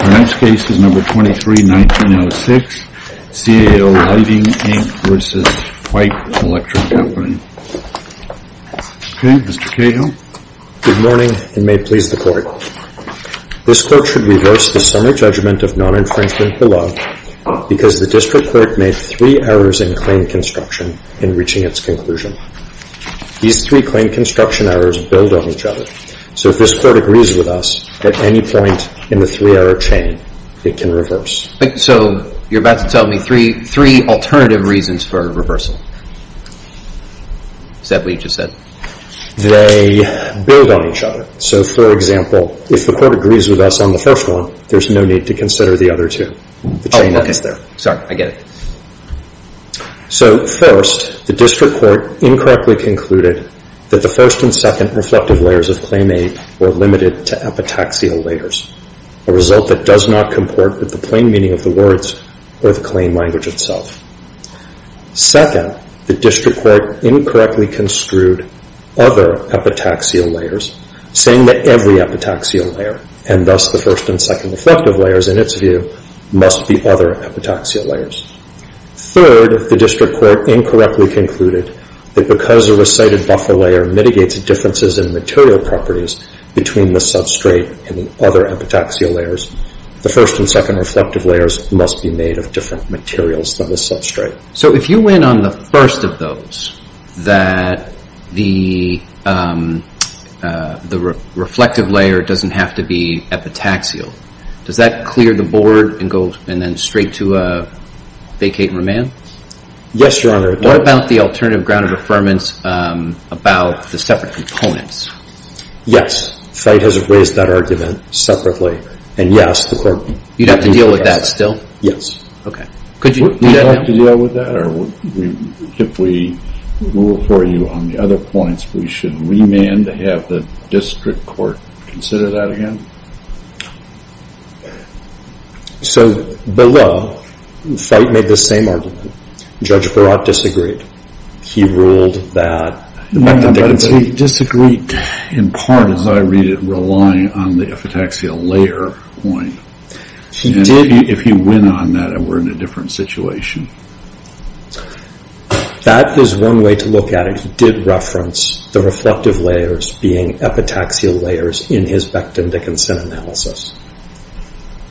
Our next case is No. 23-19-06, CAO Lighting, Inc. v. Feit Electric Company, Inc. Okay, Mr. Cahill. Good morning, and may it please the Court. This Court should reverse the summary judgment of non-infringement below because the District Court made three errors in claim construction in reaching its conclusion. These three claim construction errors build on each other, so if this Court agrees with us, at any point in the three-error chain, it can reverse. So you're about to tell me three alternative reasons for reversal. Is that what you just said? They build on each other. So for example, if the Court agrees with us on the first one, there's no need to consider the other two. Oh, okay. The chain ends there. Sorry. I get it. So first, the District Court incorrectly concluded that the first and second reflective layers of claim aid were limited to epitaxial layers, a result that does not comport with the plain meaning of the words or the claim language itself. Second, the District Court incorrectly construed other epitaxial layers, saying that every epitaxial layer, and thus the first and second reflective layers in its view, must be other epitaxial layers. Third, the District Court incorrectly concluded that because a recited buffer layer mitigates the differences in material properties between the substrate and the other epitaxial layers, the first and second reflective layers must be made of different materials than the substrate. So if you went on the first of those, that the reflective layer doesn't have to be epitaxial, does that clear the board and go straight to a vacate and remand? Yes, Your Honor. What about the alternative ground of affirmance about the separate components? Yes. FITE has raised that argument separately. And yes, the court— You'd have to deal with that still? Yes. Okay. Could you— We don't have to deal with that? Or if we rule for you on the other points, we should remand to have the District Court consider that again? So below, FITE made the same argument. Judge Barat disagreed. He ruled that— He disagreed in part, as I read it, relying on the epitaxial layer point. If he went on that, we're in a different situation. That is one way to look at it. He did reference the reflective layers being epitaxial layers in his Becton-Dickinson analysis.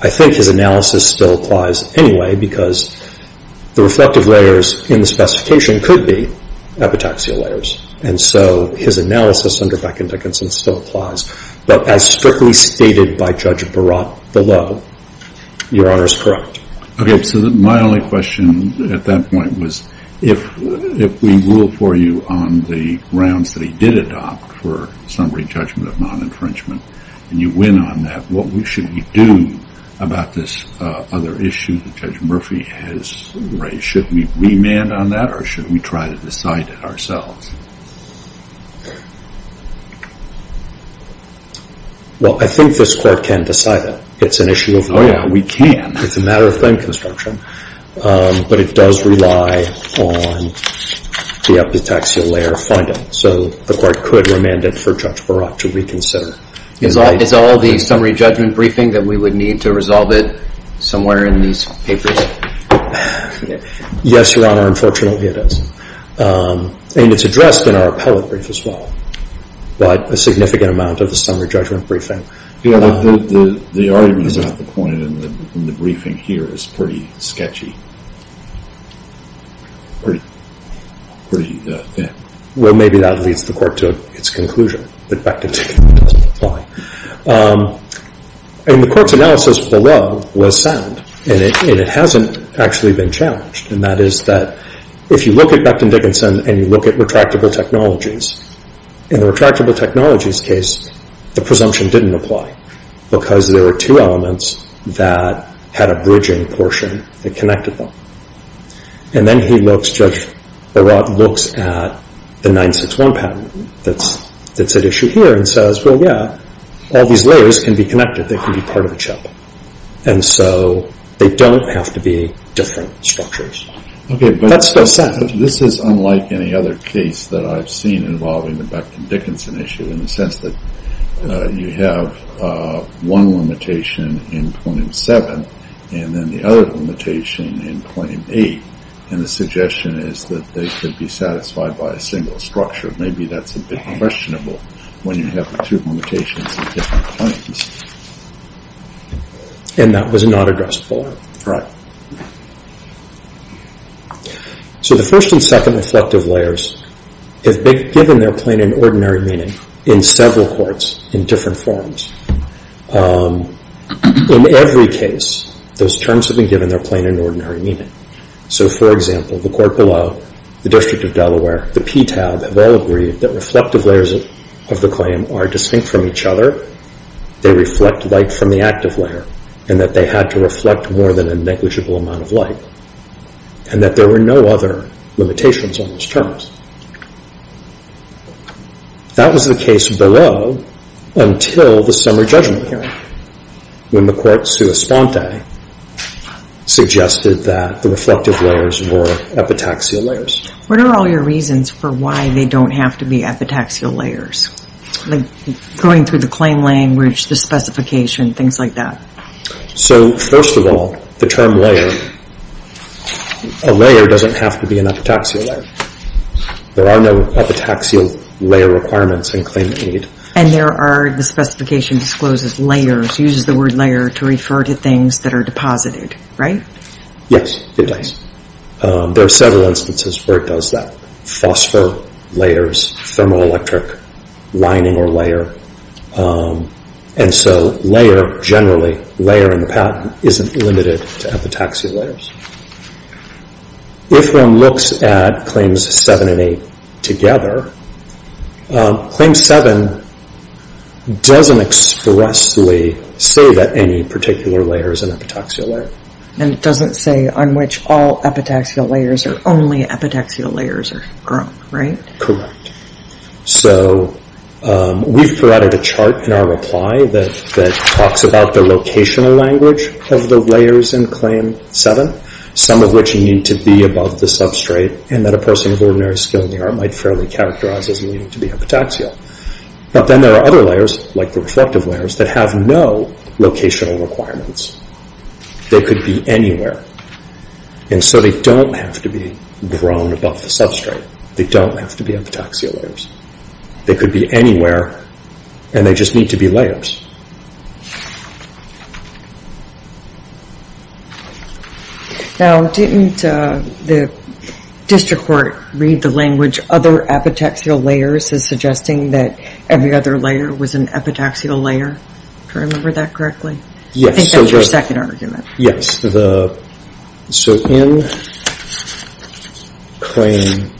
I think his analysis still applies anyway, because the reflective layers in the specification could be epitaxial layers. And so his analysis under Becton-Dickinson still applies. But as strictly stated by Judge Barat below, Your Honor is correct. Okay. So my only question at that point was, if we rule for you on the grounds that he did opt for summary judgment of non-infringement, and you win on that, what should we do about this other issue that Judge Murphy has raised? Should we remand on that, or should we try to decide it ourselves? Well, I think this Court can decide it. It's an issue of— Oh, yeah. We can. It's a matter of frame construction. But it does rely on the epitaxial layer finding. So the Court could remand it for Judge Barat to reconsider. Is all the summary judgment briefing that we would need to resolve it somewhere in these papers? Yes, Your Honor. Unfortunately, it is. And it's addressed in our appellate brief as well, but a significant amount of the summary judgment briefing. The argument about the point in the briefing here is pretty sketchy, pretty thin. Well, maybe that leads the Court to its conclusion, that Becton-Dickinson doesn't apply. And the Court's analysis below was sound, and it hasn't actually been challenged. And that is that if you look at Becton-Dickinson and you look at retractable technologies, in the retractable technologies case, the presumption didn't apply because there were two elements that had a bridging portion that connected them. And then Judge Barat looks at the 9-6-1 patent that's at issue here and says, well, yeah, all these layers can be connected, they can be part of a chip. And so they don't have to be different structures. Okay. That's still sound. But this is unlike any other case that I've seen involving the Becton-Dickinson issue in the sense that you have one limitation in Plain 7 and then the other limitation in Plain 8. And the suggestion is that they could be satisfied by a single structure. Maybe that's a bit questionable when you have the two limitations in different planes. And that was not addressable. Right. So the first and second reflective layers have been given their plain and ordinary meaning in several courts in different forms. In every case, those terms have been given their plain and ordinary meaning. So for example, the court below, the District of Delaware, the PTAB, have all agreed that reflective layers of the claim are distinct from each other, they reflect light from the reflective layer, and that they had to reflect more than a negligible amount of light. And that there were no other limitations on those terms. That was the case below until the summary judgment hearing when the court suggested that the reflective layers were epitaxial layers. What are all your reasons for why they don't have to be epitaxial layers? Going through the claim language, the specification, things like that. So first of all, the term layer, a layer doesn't have to be an epitaxial layer. There are no epitaxial layer requirements in Claim 8. And there are, the specification discloses layers, uses the word layer to refer to things that are deposited, right? Yes, it does. There are several instances where it does that. Phosphor, layers, thermoelectric, lining or layer. And so layer, generally, layer in the patent isn't limited to epitaxial layers. If one looks at Claims 7 and 8 together, Claim 7 doesn't expressly say that any particular layer is an epitaxial layer. And it doesn't say on which all epitaxial layers or only epitaxial layers are grown, right? So we've provided a chart in our reply that talks about the locational language of the layers in Claim 7, some of which need to be above the substrate and that a person of ordinary skill in the art might fairly characterize as needing to be epitaxial. But then there are other layers, like the reflective layers, that have no locational requirements. They could be anywhere. And so they don't have to be grown above the substrate, they don't have to be epitaxial layers. They could be anywhere, and they just need to be layers. Now, didn't the district court read the language, other epitaxial layers, as suggesting that every other layer was an epitaxial layer? Do I remember that correctly? Yes. I think that's your second argument. Yes. So in Claim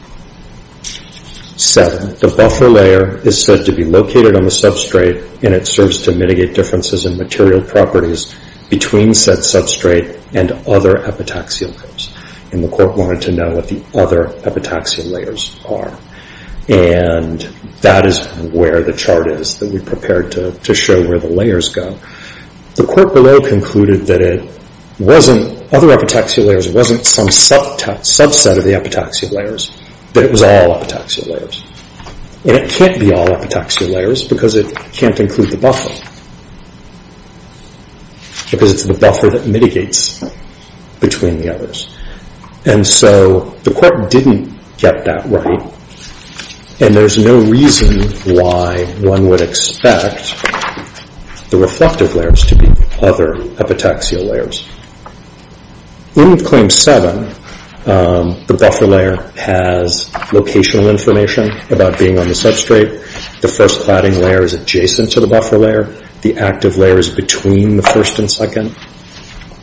7, the buffer layer is said to be located on the substrate and it serves to mitigate differences in material properties between said substrate and other epitaxial layers. And the court wanted to know what the other epitaxial layers are. And that is where the chart is that we prepared to show where the layers go. The court below concluded that other epitaxial layers wasn't some subset of the epitaxial layers, that it was all epitaxial layers. And it can't be all epitaxial layers because it can't include the buffer, because it's the buffer that mitigates between the others. And so the court didn't get that right. And there's no reason why one would expect the reflective layers to be other epitaxial layers. In Claim 7, the buffer layer has locational information about being on the substrate. The first cladding layer is adjacent to the buffer layer. The active layer is between the first and second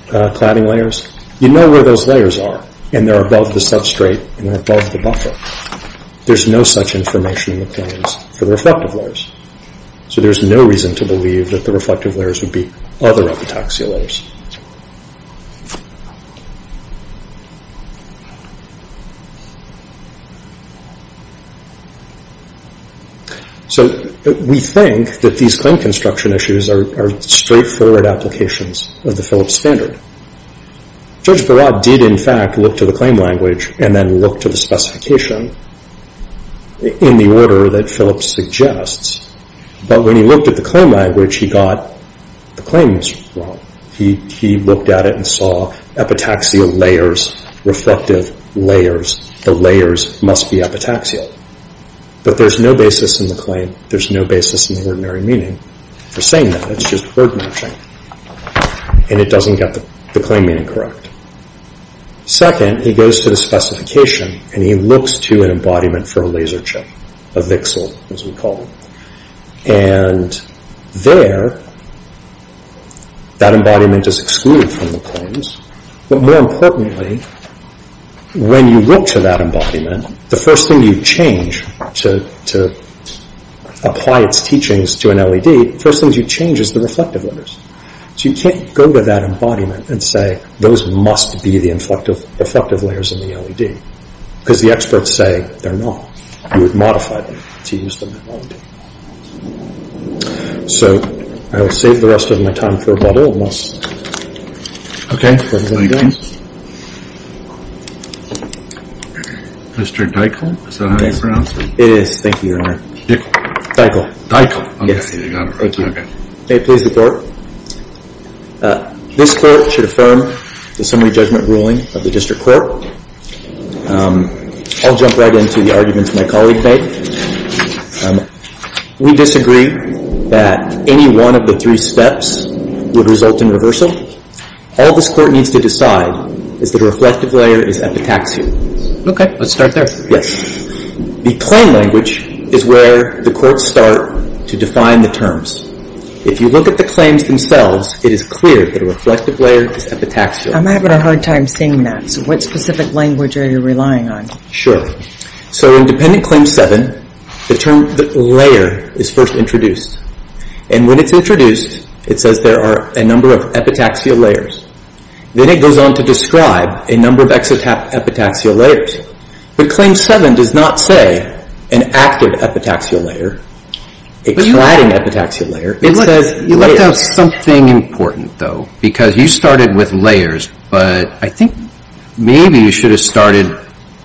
cladding layers. You know where those layers are and they're above the substrate and above the buffer. There's no such information in the claims for the reflective layers. So there's no reason to believe that the reflective layers would be other epitaxial layers. So we think that these claim construction issues are straightforward applications of the Phillips standard. Judge Barad did, in fact, look to the claim language and then look to the specification in the order that Phillips suggests, but when he looked at the claim language, he got the claims wrong. He looked at it and saw epitaxial layers, reflective layers, the layers must be epitaxial. But there's no basis in the claim, there's no basis in the ordinary meaning for saying that. It's just word matching. And it doesn't get the claim meaning correct. Second, he goes to the specification and he looks to an embodiment for a laser chip, a VXL as we call it. And there, that embodiment is excluded from the claims, but more importantly, when you look to that embodiment, the first thing you change to apply its teachings to an LED, the first thing you change is the reflective layers. So you can't go to that embodiment and say those must be the reflective layers in the Because the experts say they're not. You would modify them to use them in an LED. So I will save the rest of my time for Baudrillard and we'll see what he's going to do next. Mr. Deichel? Is that how you pronounce it? It is. Thank you, Your Honor. Deichel? Deichel. Deichel. Okay, you got it right. May it please the Court. This Court should affirm the summary judgment ruling of the District Court. I'll jump right into the arguments my colleague made. We disagree that any one of the three steps would result in reversal. All this Court needs to decide is that a reflective layer is epitaxial. Okay, let's start there. Yes. The claim language is where the Courts start to define the terms. If you look at the claims themselves, it is clear that a reflective layer is epitaxial. I'm having a hard time seeing that. So what specific language are you relying on? Sure. So in Dependent Claim 7, the term layer is first introduced. And when it's introduced, it says there are a number of epitaxial layers. Then it goes on to describe a number of exotap epitaxial layers. But Claim 7 does not say an active epitaxial layer, a cladding epitaxial layer. It says layers. You left out something important, though, because you started with layers, but I think maybe you should have started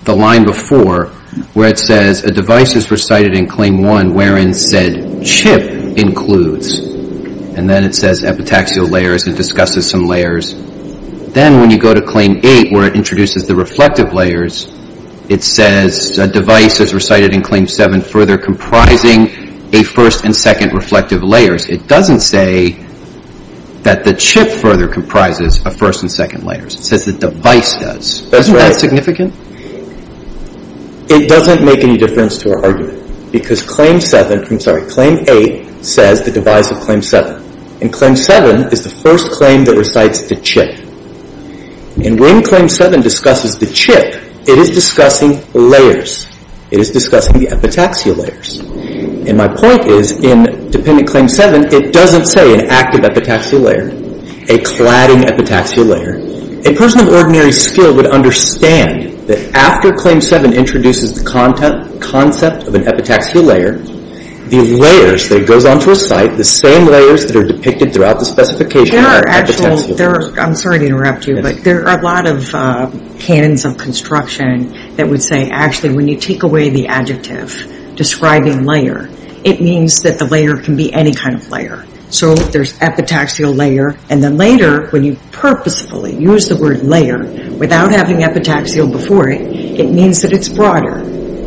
the line before where it says, a device is recited in Claim 1 wherein said chip includes. And then it says epitaxial layers and discusses some layers. Then when you go to Claim 8 where it introduces the reflective layers, it says a device is recited in Claim 7 further comprising a first and second reflective layers. It doesn't say that the chip further comprises a first and second layers. It says the device does. That's right. Isn't that significant? It doesn't make any difference to our argument because Claim 7, I'm sorry, Claim 8 says the device of Claim 7. And Claim 7 is the first claim that recites the chip. And when Claim 7 discusses the chip, it is discussing layers. It is discussing the epitaxial layers. And my point is in Dependent Claim 7, it doesn't say an active epitaxial layer, a cladding epitaxial layer. A person of ordinary skill would understand that after Claim 7 introduces the concept of an epitaxial layer, the layers that it goes on to recite, the same layers that are depicted throughout the specification are epitaxial. I'm sorry to interrupt you, but there are a lot of canons of construction that would say actually when you take away the adjective describing layer, it means that the layer can be any kind of layer. So there's epitaxial layer. And then later when you purposefully use the word layer without having epitaxial before it, it means that it's broader.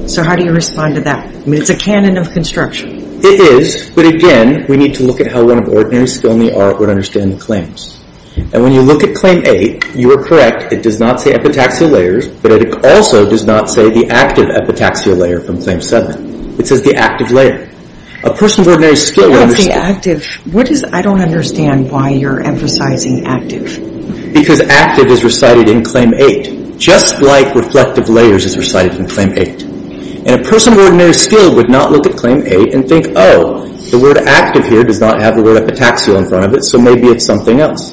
So how do you respond to that? I mean, it's a canon of construction. It is, but again, we need to look at how one of ordinary skill in the art would understand the claims. And when you look at Claim 8, you are correct. It does not say epitaxial layers, but it also does not say the active epitaxial layer from Claim 7. It says the active layer. A person of ordinary skill would understand. I don't understand why you're emphasizing active. Because active is recited in Claim 8, just like reflective layers is recited in Claim 8. And a person of ordinary skill would not look at Claim 8 and think, oh, the word active here does not have the word epitaxial in front of it, so maybe it's something else.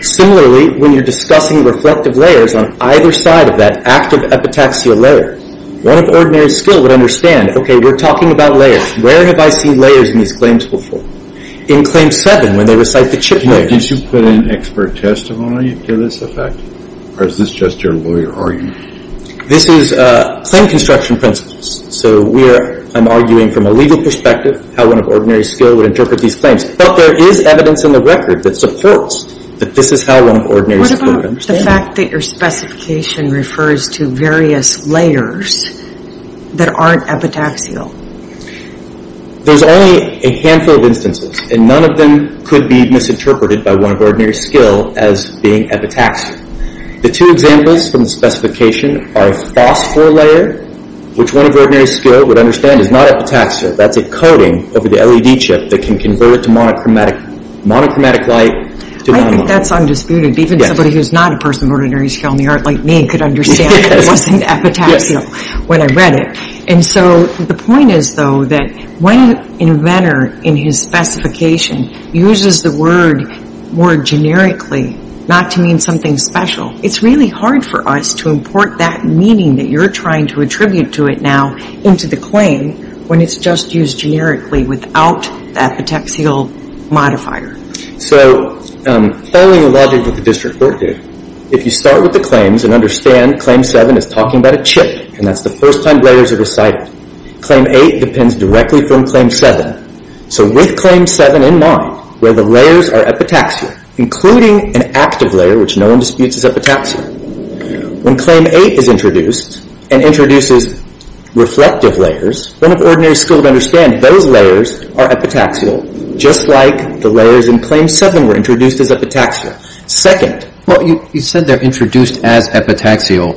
Similarly, when you're discussing reflective layers on either side of that active epitaxial layer, one of ordinary skill would understand, okay, we're talking about layers. Where have I seen layers in these claims before? In Claim 7, when they recite the chip layer. Did you put in expert testimony to this effect, or is this just your lawyer argument? This is claim construction principles. So I'm arguing from a legal perspective how one of ordinary skill would interpret these claims. But there is evidence in the record that supports that this is how one of ordinary skill would understand. What's the fact that your specification refers to various layers that aren't epitaxial? There's only a handful of instances, and none of them could be misinterpreted by one of ordinary skill as being epitaxial. The two examples from the specification are a phosphor layer, which one of ordinary skill would understand is not epitaxial. That's a coating over the LED chip that can convert it to monochromatic light. I think that's undisputed. Even somebody who's not a person of ordinary skill in the art like me could understand it wasn't epitaxial when I read it. And so the point is, though, that when an inventor, in his specification, uses the word more generically, not to mean something special, it's really hard for us to import that meaning that you're trying to attribute to it now into the claim when it's just used generically without the epitaxial modifier. So following the logic that the district court did, if you start with the claims and understand Claim 7 is talking about a chip, and that's the first time layers are decided, Claim 8 depends directly from Claim 7. So with Claim 7 in mind, where the layers are epitaxial, including an active layer which no one disputes is epitaxial, when Claim 8 is introduced and introduces reflective layers, one of ordinary skill to understand those layers are epitaxial, just like the layers in Claim 7 were introduced as epitaxial. Second, well, you said they're introduced as epitaxial.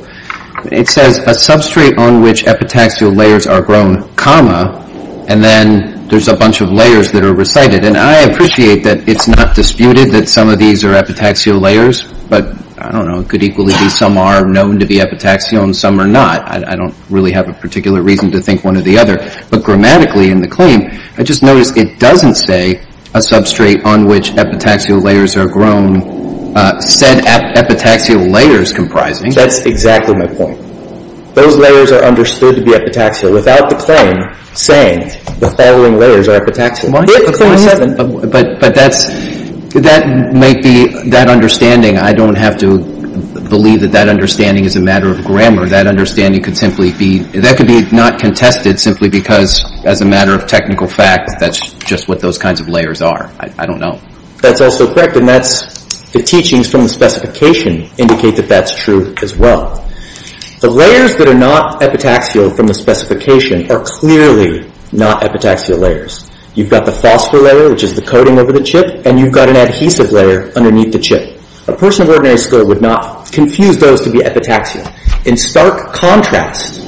It says a substrate on which epitaxial layers are grown, comma, and then there's a bunch of layers that are recited. And I appreciate that it's not disputed that some of these are epitaxial layers, but, I don't know, it could equally be some are known to be epitaxial and some are not. I don't really have a particular reason to think one or the other. But grammatically in the claim, I just noticed it doesn't say a substrate on which epitaxial layers are grown, said epitaxial layers comprising. That's exactly my point. Those layers are understood to be epitaxial without the claim saying the following layers are epitaxial. But that's, that might be, that understanding, I don't have to believe that that understanding is a matter of grammar. That understanding could simply be, that could be not contested simply because, as a matter of technical fact, that's just what those kinds of layers are. I don't know. That's also correct, and that's the teachings from the specification indicate that that's true as well. The layers that are not epitaxial from the specification are clearly not epitaxial layers. You've got the phosphor layer, which is the coating over the chip, and you've got an adhesive layer underneath the chip. A person of ordinary skill would not confuse those to be epitaxial. In stark contrast,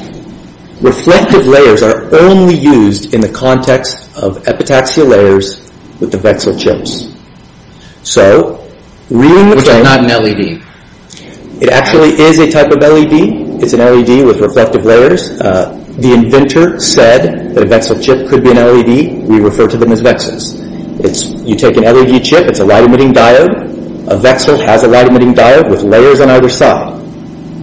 reflective layers are only used in the context of epitaxial layers with the Vexil chips. So, reading the… Which are not an LED. It actually is a type of LED. It's an LED with reflective layers. The inventor said that a Vexil chip could be an LED. We refer to them as Vexils. It's, you take an LED chip, it's a light-emitting diode. A Vexil has a light-emitting diode with layers on either side.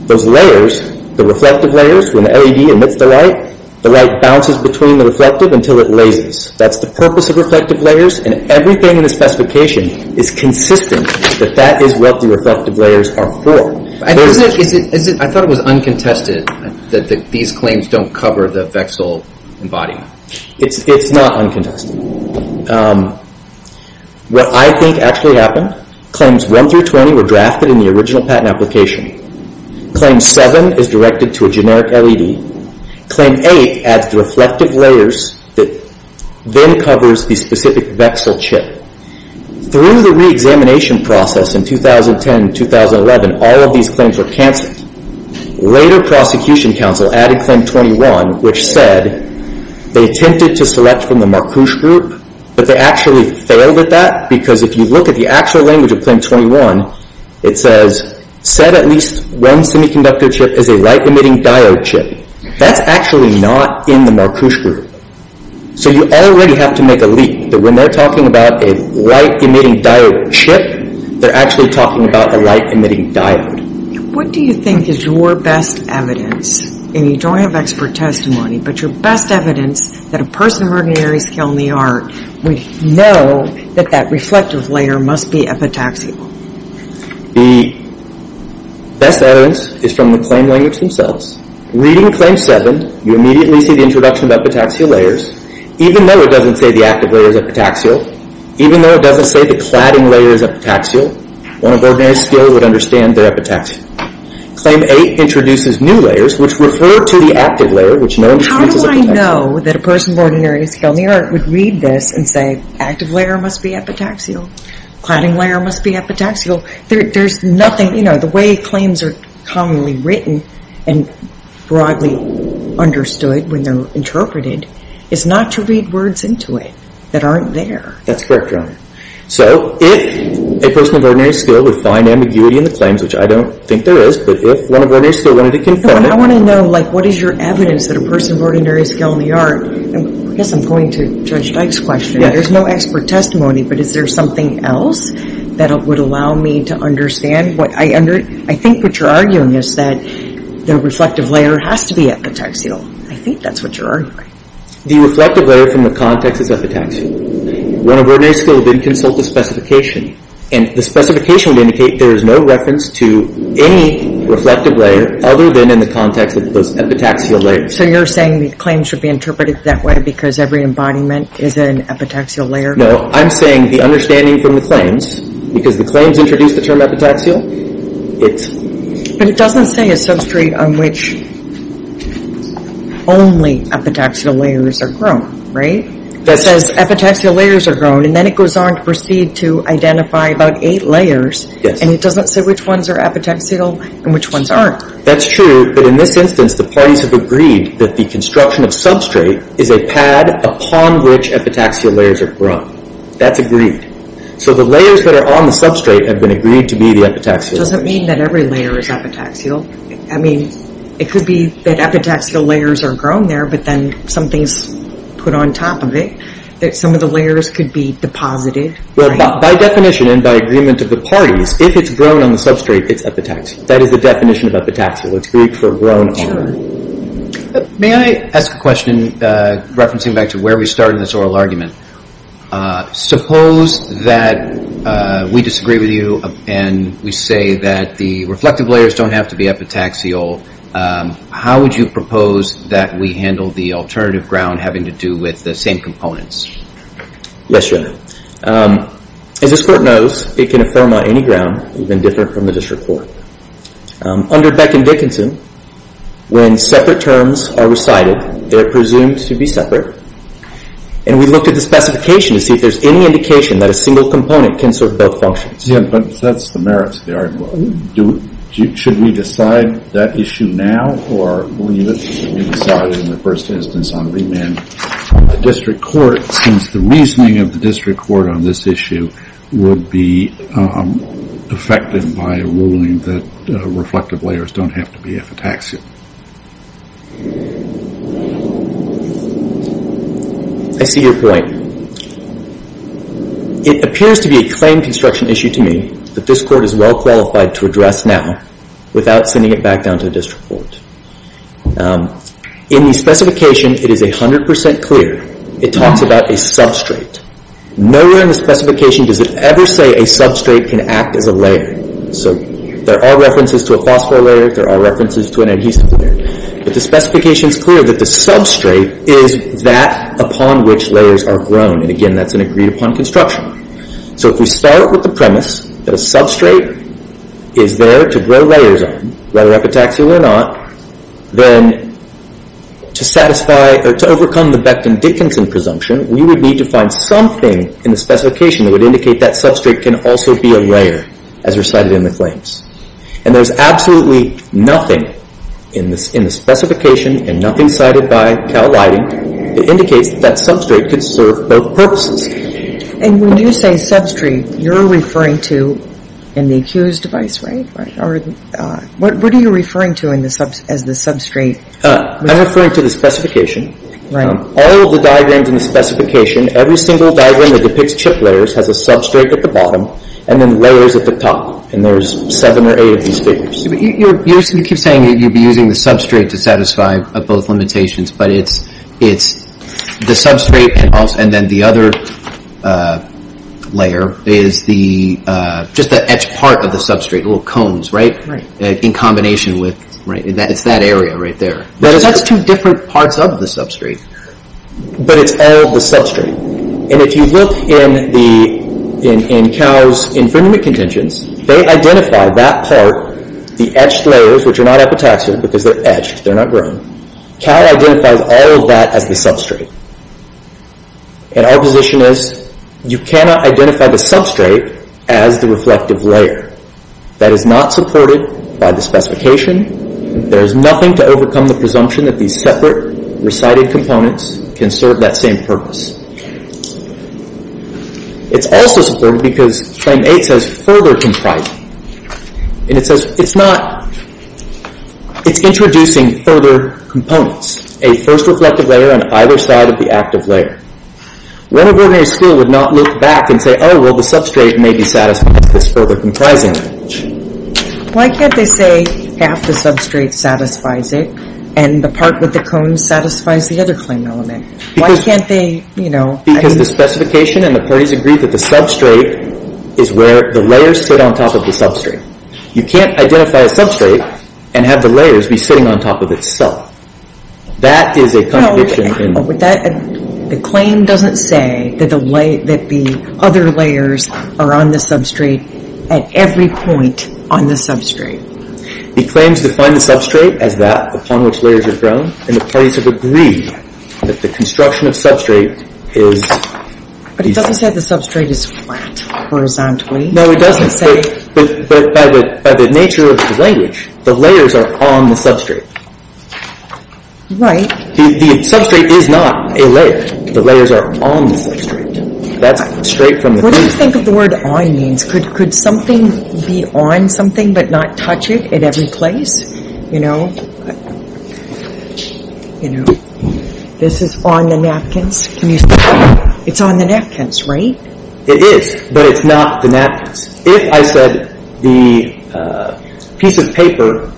Those layers, the reflective layers, when the LED emits the light, the light bounces between the reflective until it lasers. That's the purpose of reflective layers, and everything in the specification is consistent that that is what the reflective layers are for. I thought it was uncontested that these claims don't cover the Vexil embodiment. It's not uncontested. What I think actually happened, Claims 1 through 20 were drafted in the original patent application. Claim 7 is directed to a generic LED. Claim 8 adds the reflective layers that then covers the specific Vexil chip. Through the reexamination process in 2010 and 2011, all of these claims were canceled. Later, prosecution counsel added Claim 21, which said they attempted to select from the Marcouche group, but they actually failed at that because if you look at the actual language of Claim 21, it says, set at least one semiconductor chip as a light-emitting diode chip. That's actually not in the Marcouche group. So you already have to make a leak that when they're talking about a light-emitting diode chip, they're actually talking about a light-emitting diode. What do you think is your best evidence, and you don't have expert testimony, but your best evidence that a person of ordinary skill in the art would know that that reflective layer must be epitaxial? The best evidence is from the claim language themselves. Reading Claim 7, you immediately see the introduction of epitaxial layers. Even though it doesn't say the active layer is epitaxial, even though it doesn't say the cladding layer is epitaxial, one of ordinary skill would understand they're epitaxial. Claim 8 introduces new layers, which refer to the active layer, which no one thinks is epitaxial. How would I know that a person of ordinary skill in the art would read this and say active layer must be epitaxial, cladding layer must be epitaxial? There's nothing, you know, the way claims are commonly written and broadly understood when they're interpreted is not to read words into it that aren't there. That's correct, Your Honor. So if a person of ordinary skill would find ambiguity in the claims, which I don't think there is, but if one of ordinary skill wanted to confirm it... I want to know, like, what is your evidence that a person of ordinary skill in the art... I guess I'm going to Judge Dyke's question. There's no expert testimony, but is there something else that would allow me to understand? I think what you're arguing is that the reflective layer has to be epitaxial. I think that's what you're arguing. The reflective layer from the context is epitaxial. One of ordinary skill would consult the specification, and the specification would indicate there is no reference to any reflective layer other than in the context of those epitaxial layers. So you're saying the claims should be interpreted that way because every embodiment is an epitaxial layer? No, I'm saying the understanding from the claims, because the claims introduce the term epitaxial, it's... But it doesn't say a substrate on which only epitaxial layers are grown, right? It says epitaxial layers are grown, and then it goes on to proceed to identify about eight layers, and it doesn't say which ones are epitaxial and which ones aren't. That's true, but in this instance the parties have agreed that the construction of substrate is a pad upon which epitaxial layers are grown. That's agreed. So the layers that are on the substrate have been agreed to be the epitaxial layers. Does it mean that every layer is epitaxial? I mean, it could be that epitaxial layers are grown there, but then something's put on top of it, that some of the layers could be deposited. By definition and by agreement of the parties, if it's grown on the substrate, it's epitaxial. That is the definition of epitaxial. It's Greek for grown on. May I ask a question referencing back to where we started this oral argument? Suppose that we disagree with you, and we say that the reflective layers don't have to be epitaxial. How would you propose that we handle the alternative ground having to do with the same components? Yes, Your Honor. As this Court knows, it can affirm on any ground, even different from the district court. Under Beck and Dickinson, when separate terms are recited, they're presumed to be separate, and we looked at the specification to see if there's any indication that a single component can serve both functions. Yeah, but that's the merits of the argument. Should we decide that issue now, or will we decide it in the first instance on remand? The district court, since the reasoning of the district court on this issue will be affected by a ruling that reflective layers don't have to be epitaxial. I see your point. It appears to be a claim construction issue to me that this Court is well qualified to address now without sending it back down to the district court. In the specification, it is 100% clear. It talks about a substrate. Nowhere in the specification does it ever say a substrate can act as a layer. There are references to a phosphor layer. There are references to an adhesive layer. But the specification is clear that the substrate is that upon which layers are grown. Again, that's an agreed upon construction. If we start with the premise that a substrate is there to grow layers on, whether epitaxial or not, then to satisfy or to overcome the Becton-Dickinson presumption, we would need to find something in the specification that would indicate that substrate can also be a layer, as recited in the claims. And there's absolutely nothing in the specification and nothing cited by Cal Lighting that indicates that substrate could serve both purposes. And when you say substrate, you're referring to in the accused device, right? What are you referring to as the substrate? I'm referring to the specification. All of the diagrams in the specification, every single diagram that depicts chip layers has a substrate at the bottom and then layers at the top. And there's seven or eight of these figures. You keep saying that you'd be using the substrate to satisfy both limitations, but it's the substrate and then the other layer is just the etched part of the substrate, little cones, right? In combination with, it's that area right there. That's two different parts of the substrate. But it's all the substrate. And if you look in Cal's infringement contentions, they identify that part, the etched layers, which are not epitaxial because they're etched, they're not grown. Cal identifies all of that as the substrate. And our position is you cannot identify the substrate as the reflective layer. That is not supported by the specification. There is nothing to overcome the presumption that these separate recited components can serve that same purpose. It's also supported because Claim 8 says further comprising. And it says it's not, it's introducing further components. A first reflective layer on either side of the active layer. One of ordinary school would not look back and say, oh, well, the substrate may be satisfied with this further comprising. Why can't they say half the substrate satisfies it and the part with the cone satisfies the other claim element? Why can't they, you know? Because the specification and the parties agree that the substrate is where the layers sit on top of the substrate. You can't identify a substrate and have the layers be sitting on top of itself. That is a contradiction. The claim doesn't say that the other layers are on the substrate at every point on the substrate. The claims define the substrate as that upon which layers are grown. And the parties have agreed that the construction of substrate is... But it doesn't say the substrate is flat horizontally. No, it doesn't. But by the nature of the language, the layers are on the substrate. Right. The substrate is not a layer. The layers are on the substrate. That's straight from the claim. What do you think of the word on means? Could something be on something but not touch it at every place? You know, this is on the napkins. It's on the napkins, right? It is, but it's not the napkins. If I said the piece of paper,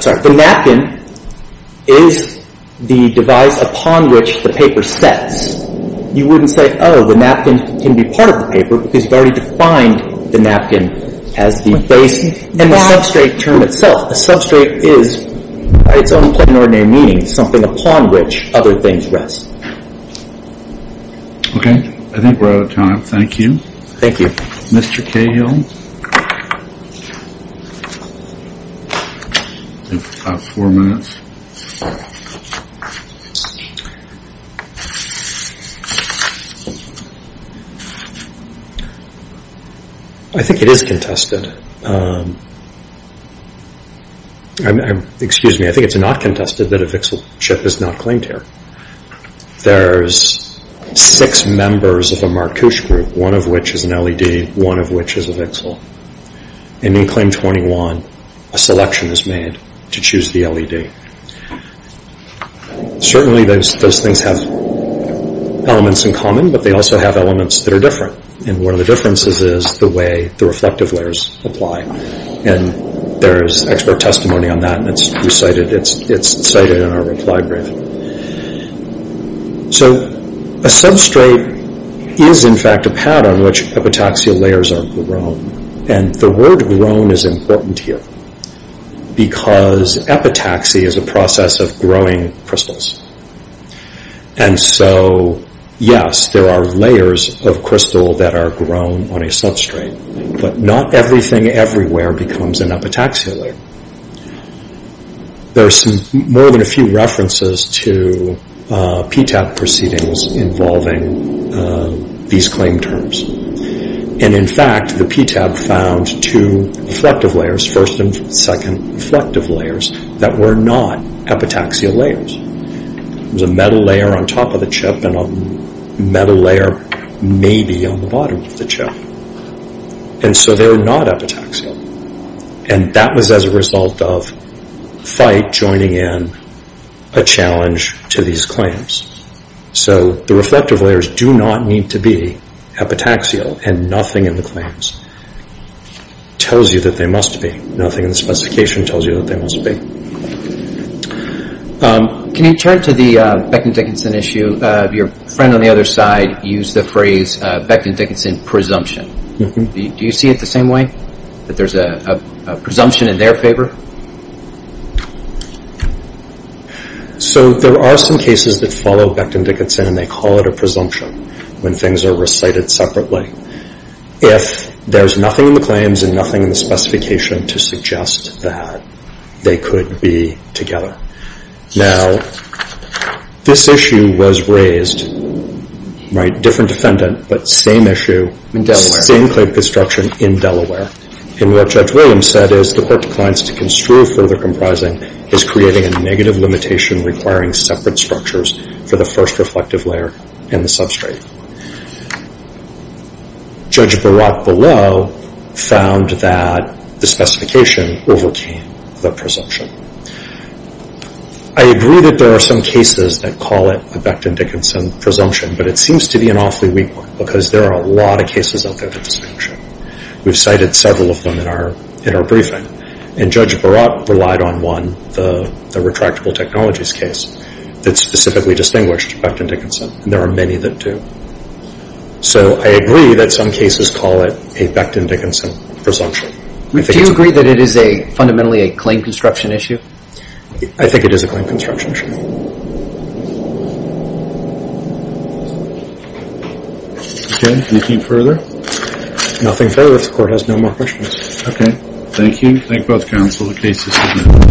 sorry, the napkin, is the device upon which the paper sets, you wouldn't say, oh, the napkin can be part of the paper because you've already defined the napkin as the base. And the substrate term itself, a substrate is, by its own plain and ordinary meaning, something upon which other things rest. Okay. I think we're out of time. Thank you. Thank you. Mr. Cahill? You have four minutes. I think it is contested. Excuse me. I think it's not contested that a VXL chip is not claimed here. There's six members of a Marcouche group, one of which is an LED, one of which is a VXL. And in claim 21, a selection is made to choose the LED. Certainly those things have elements in common, but they also have elements that are different. And one of the differences is the way the reflective layers apply. And there is expert testimony on that, and it's cited in our reply brief. So a substrate is, in fact, a pattern in which epitaxial layers are grown. And the word grown is important here because epitaxy is a process of growing crystals. And so, yes, there are layers of crystal that are grown on a substrate, but not everything everywhere becomes an epitaxial layer. There are more than a few references to PTAB proceedings involving these claim terms. And, in fact, the PTAB found two reflective layers, first and second reflective layers, that were not epitaxial layers. There was a metal layer on top of the chip and a metal layer maybe on the bottom of the chip. And so they were not epitaxial. And that was as a result of FITE joining in a challenge to these claims. So the reflective layers do not need to be epitaxial, and nothing in the claims tells you that they must be. Nothing in the specification tells you that they must be. Can you turn to the Beckton-Dickinson issue? Your friend on the other side used the phrase Beckton-Dickinson presumption. Do you see it the same way? That there's a presumption in their favor? So there are some cases that follow Beckton-Dickinson and they call it a presumption when things are recited separately. If there's nothing in the claims and nothing in the specification to suggest that they could be together. Now, this issue was raised by a different defendant, but same issue, same claim construction in Delaware. And what Judge Williams said is, the court declines to construe further comprising is creating a negative limitation requiring separate structures for the first reflective layer and the substrate. Judge Barat below found that the specification overcame the presumption. I agree that there are some cases that call it a Beckton-Dickinson presumption, but it seems to be an awfully weak one because there are a lot of cases out there that distinguish it. We've cited several of them in our briefing. And Judge Barat relied on one, the retractable technologies case, that specifically distinguished Beckton-Dickinson. And there are many that do. So I agree that some cases call it a Beckton-Dickinson presumption. Do you agree that it is fundamentally a claim construction issue? I think it is a claim construction issue. Okay. Anything further? Nothing further. If the court has no more questions. Okay. Thank you. Thank both counsel. The case is submitted.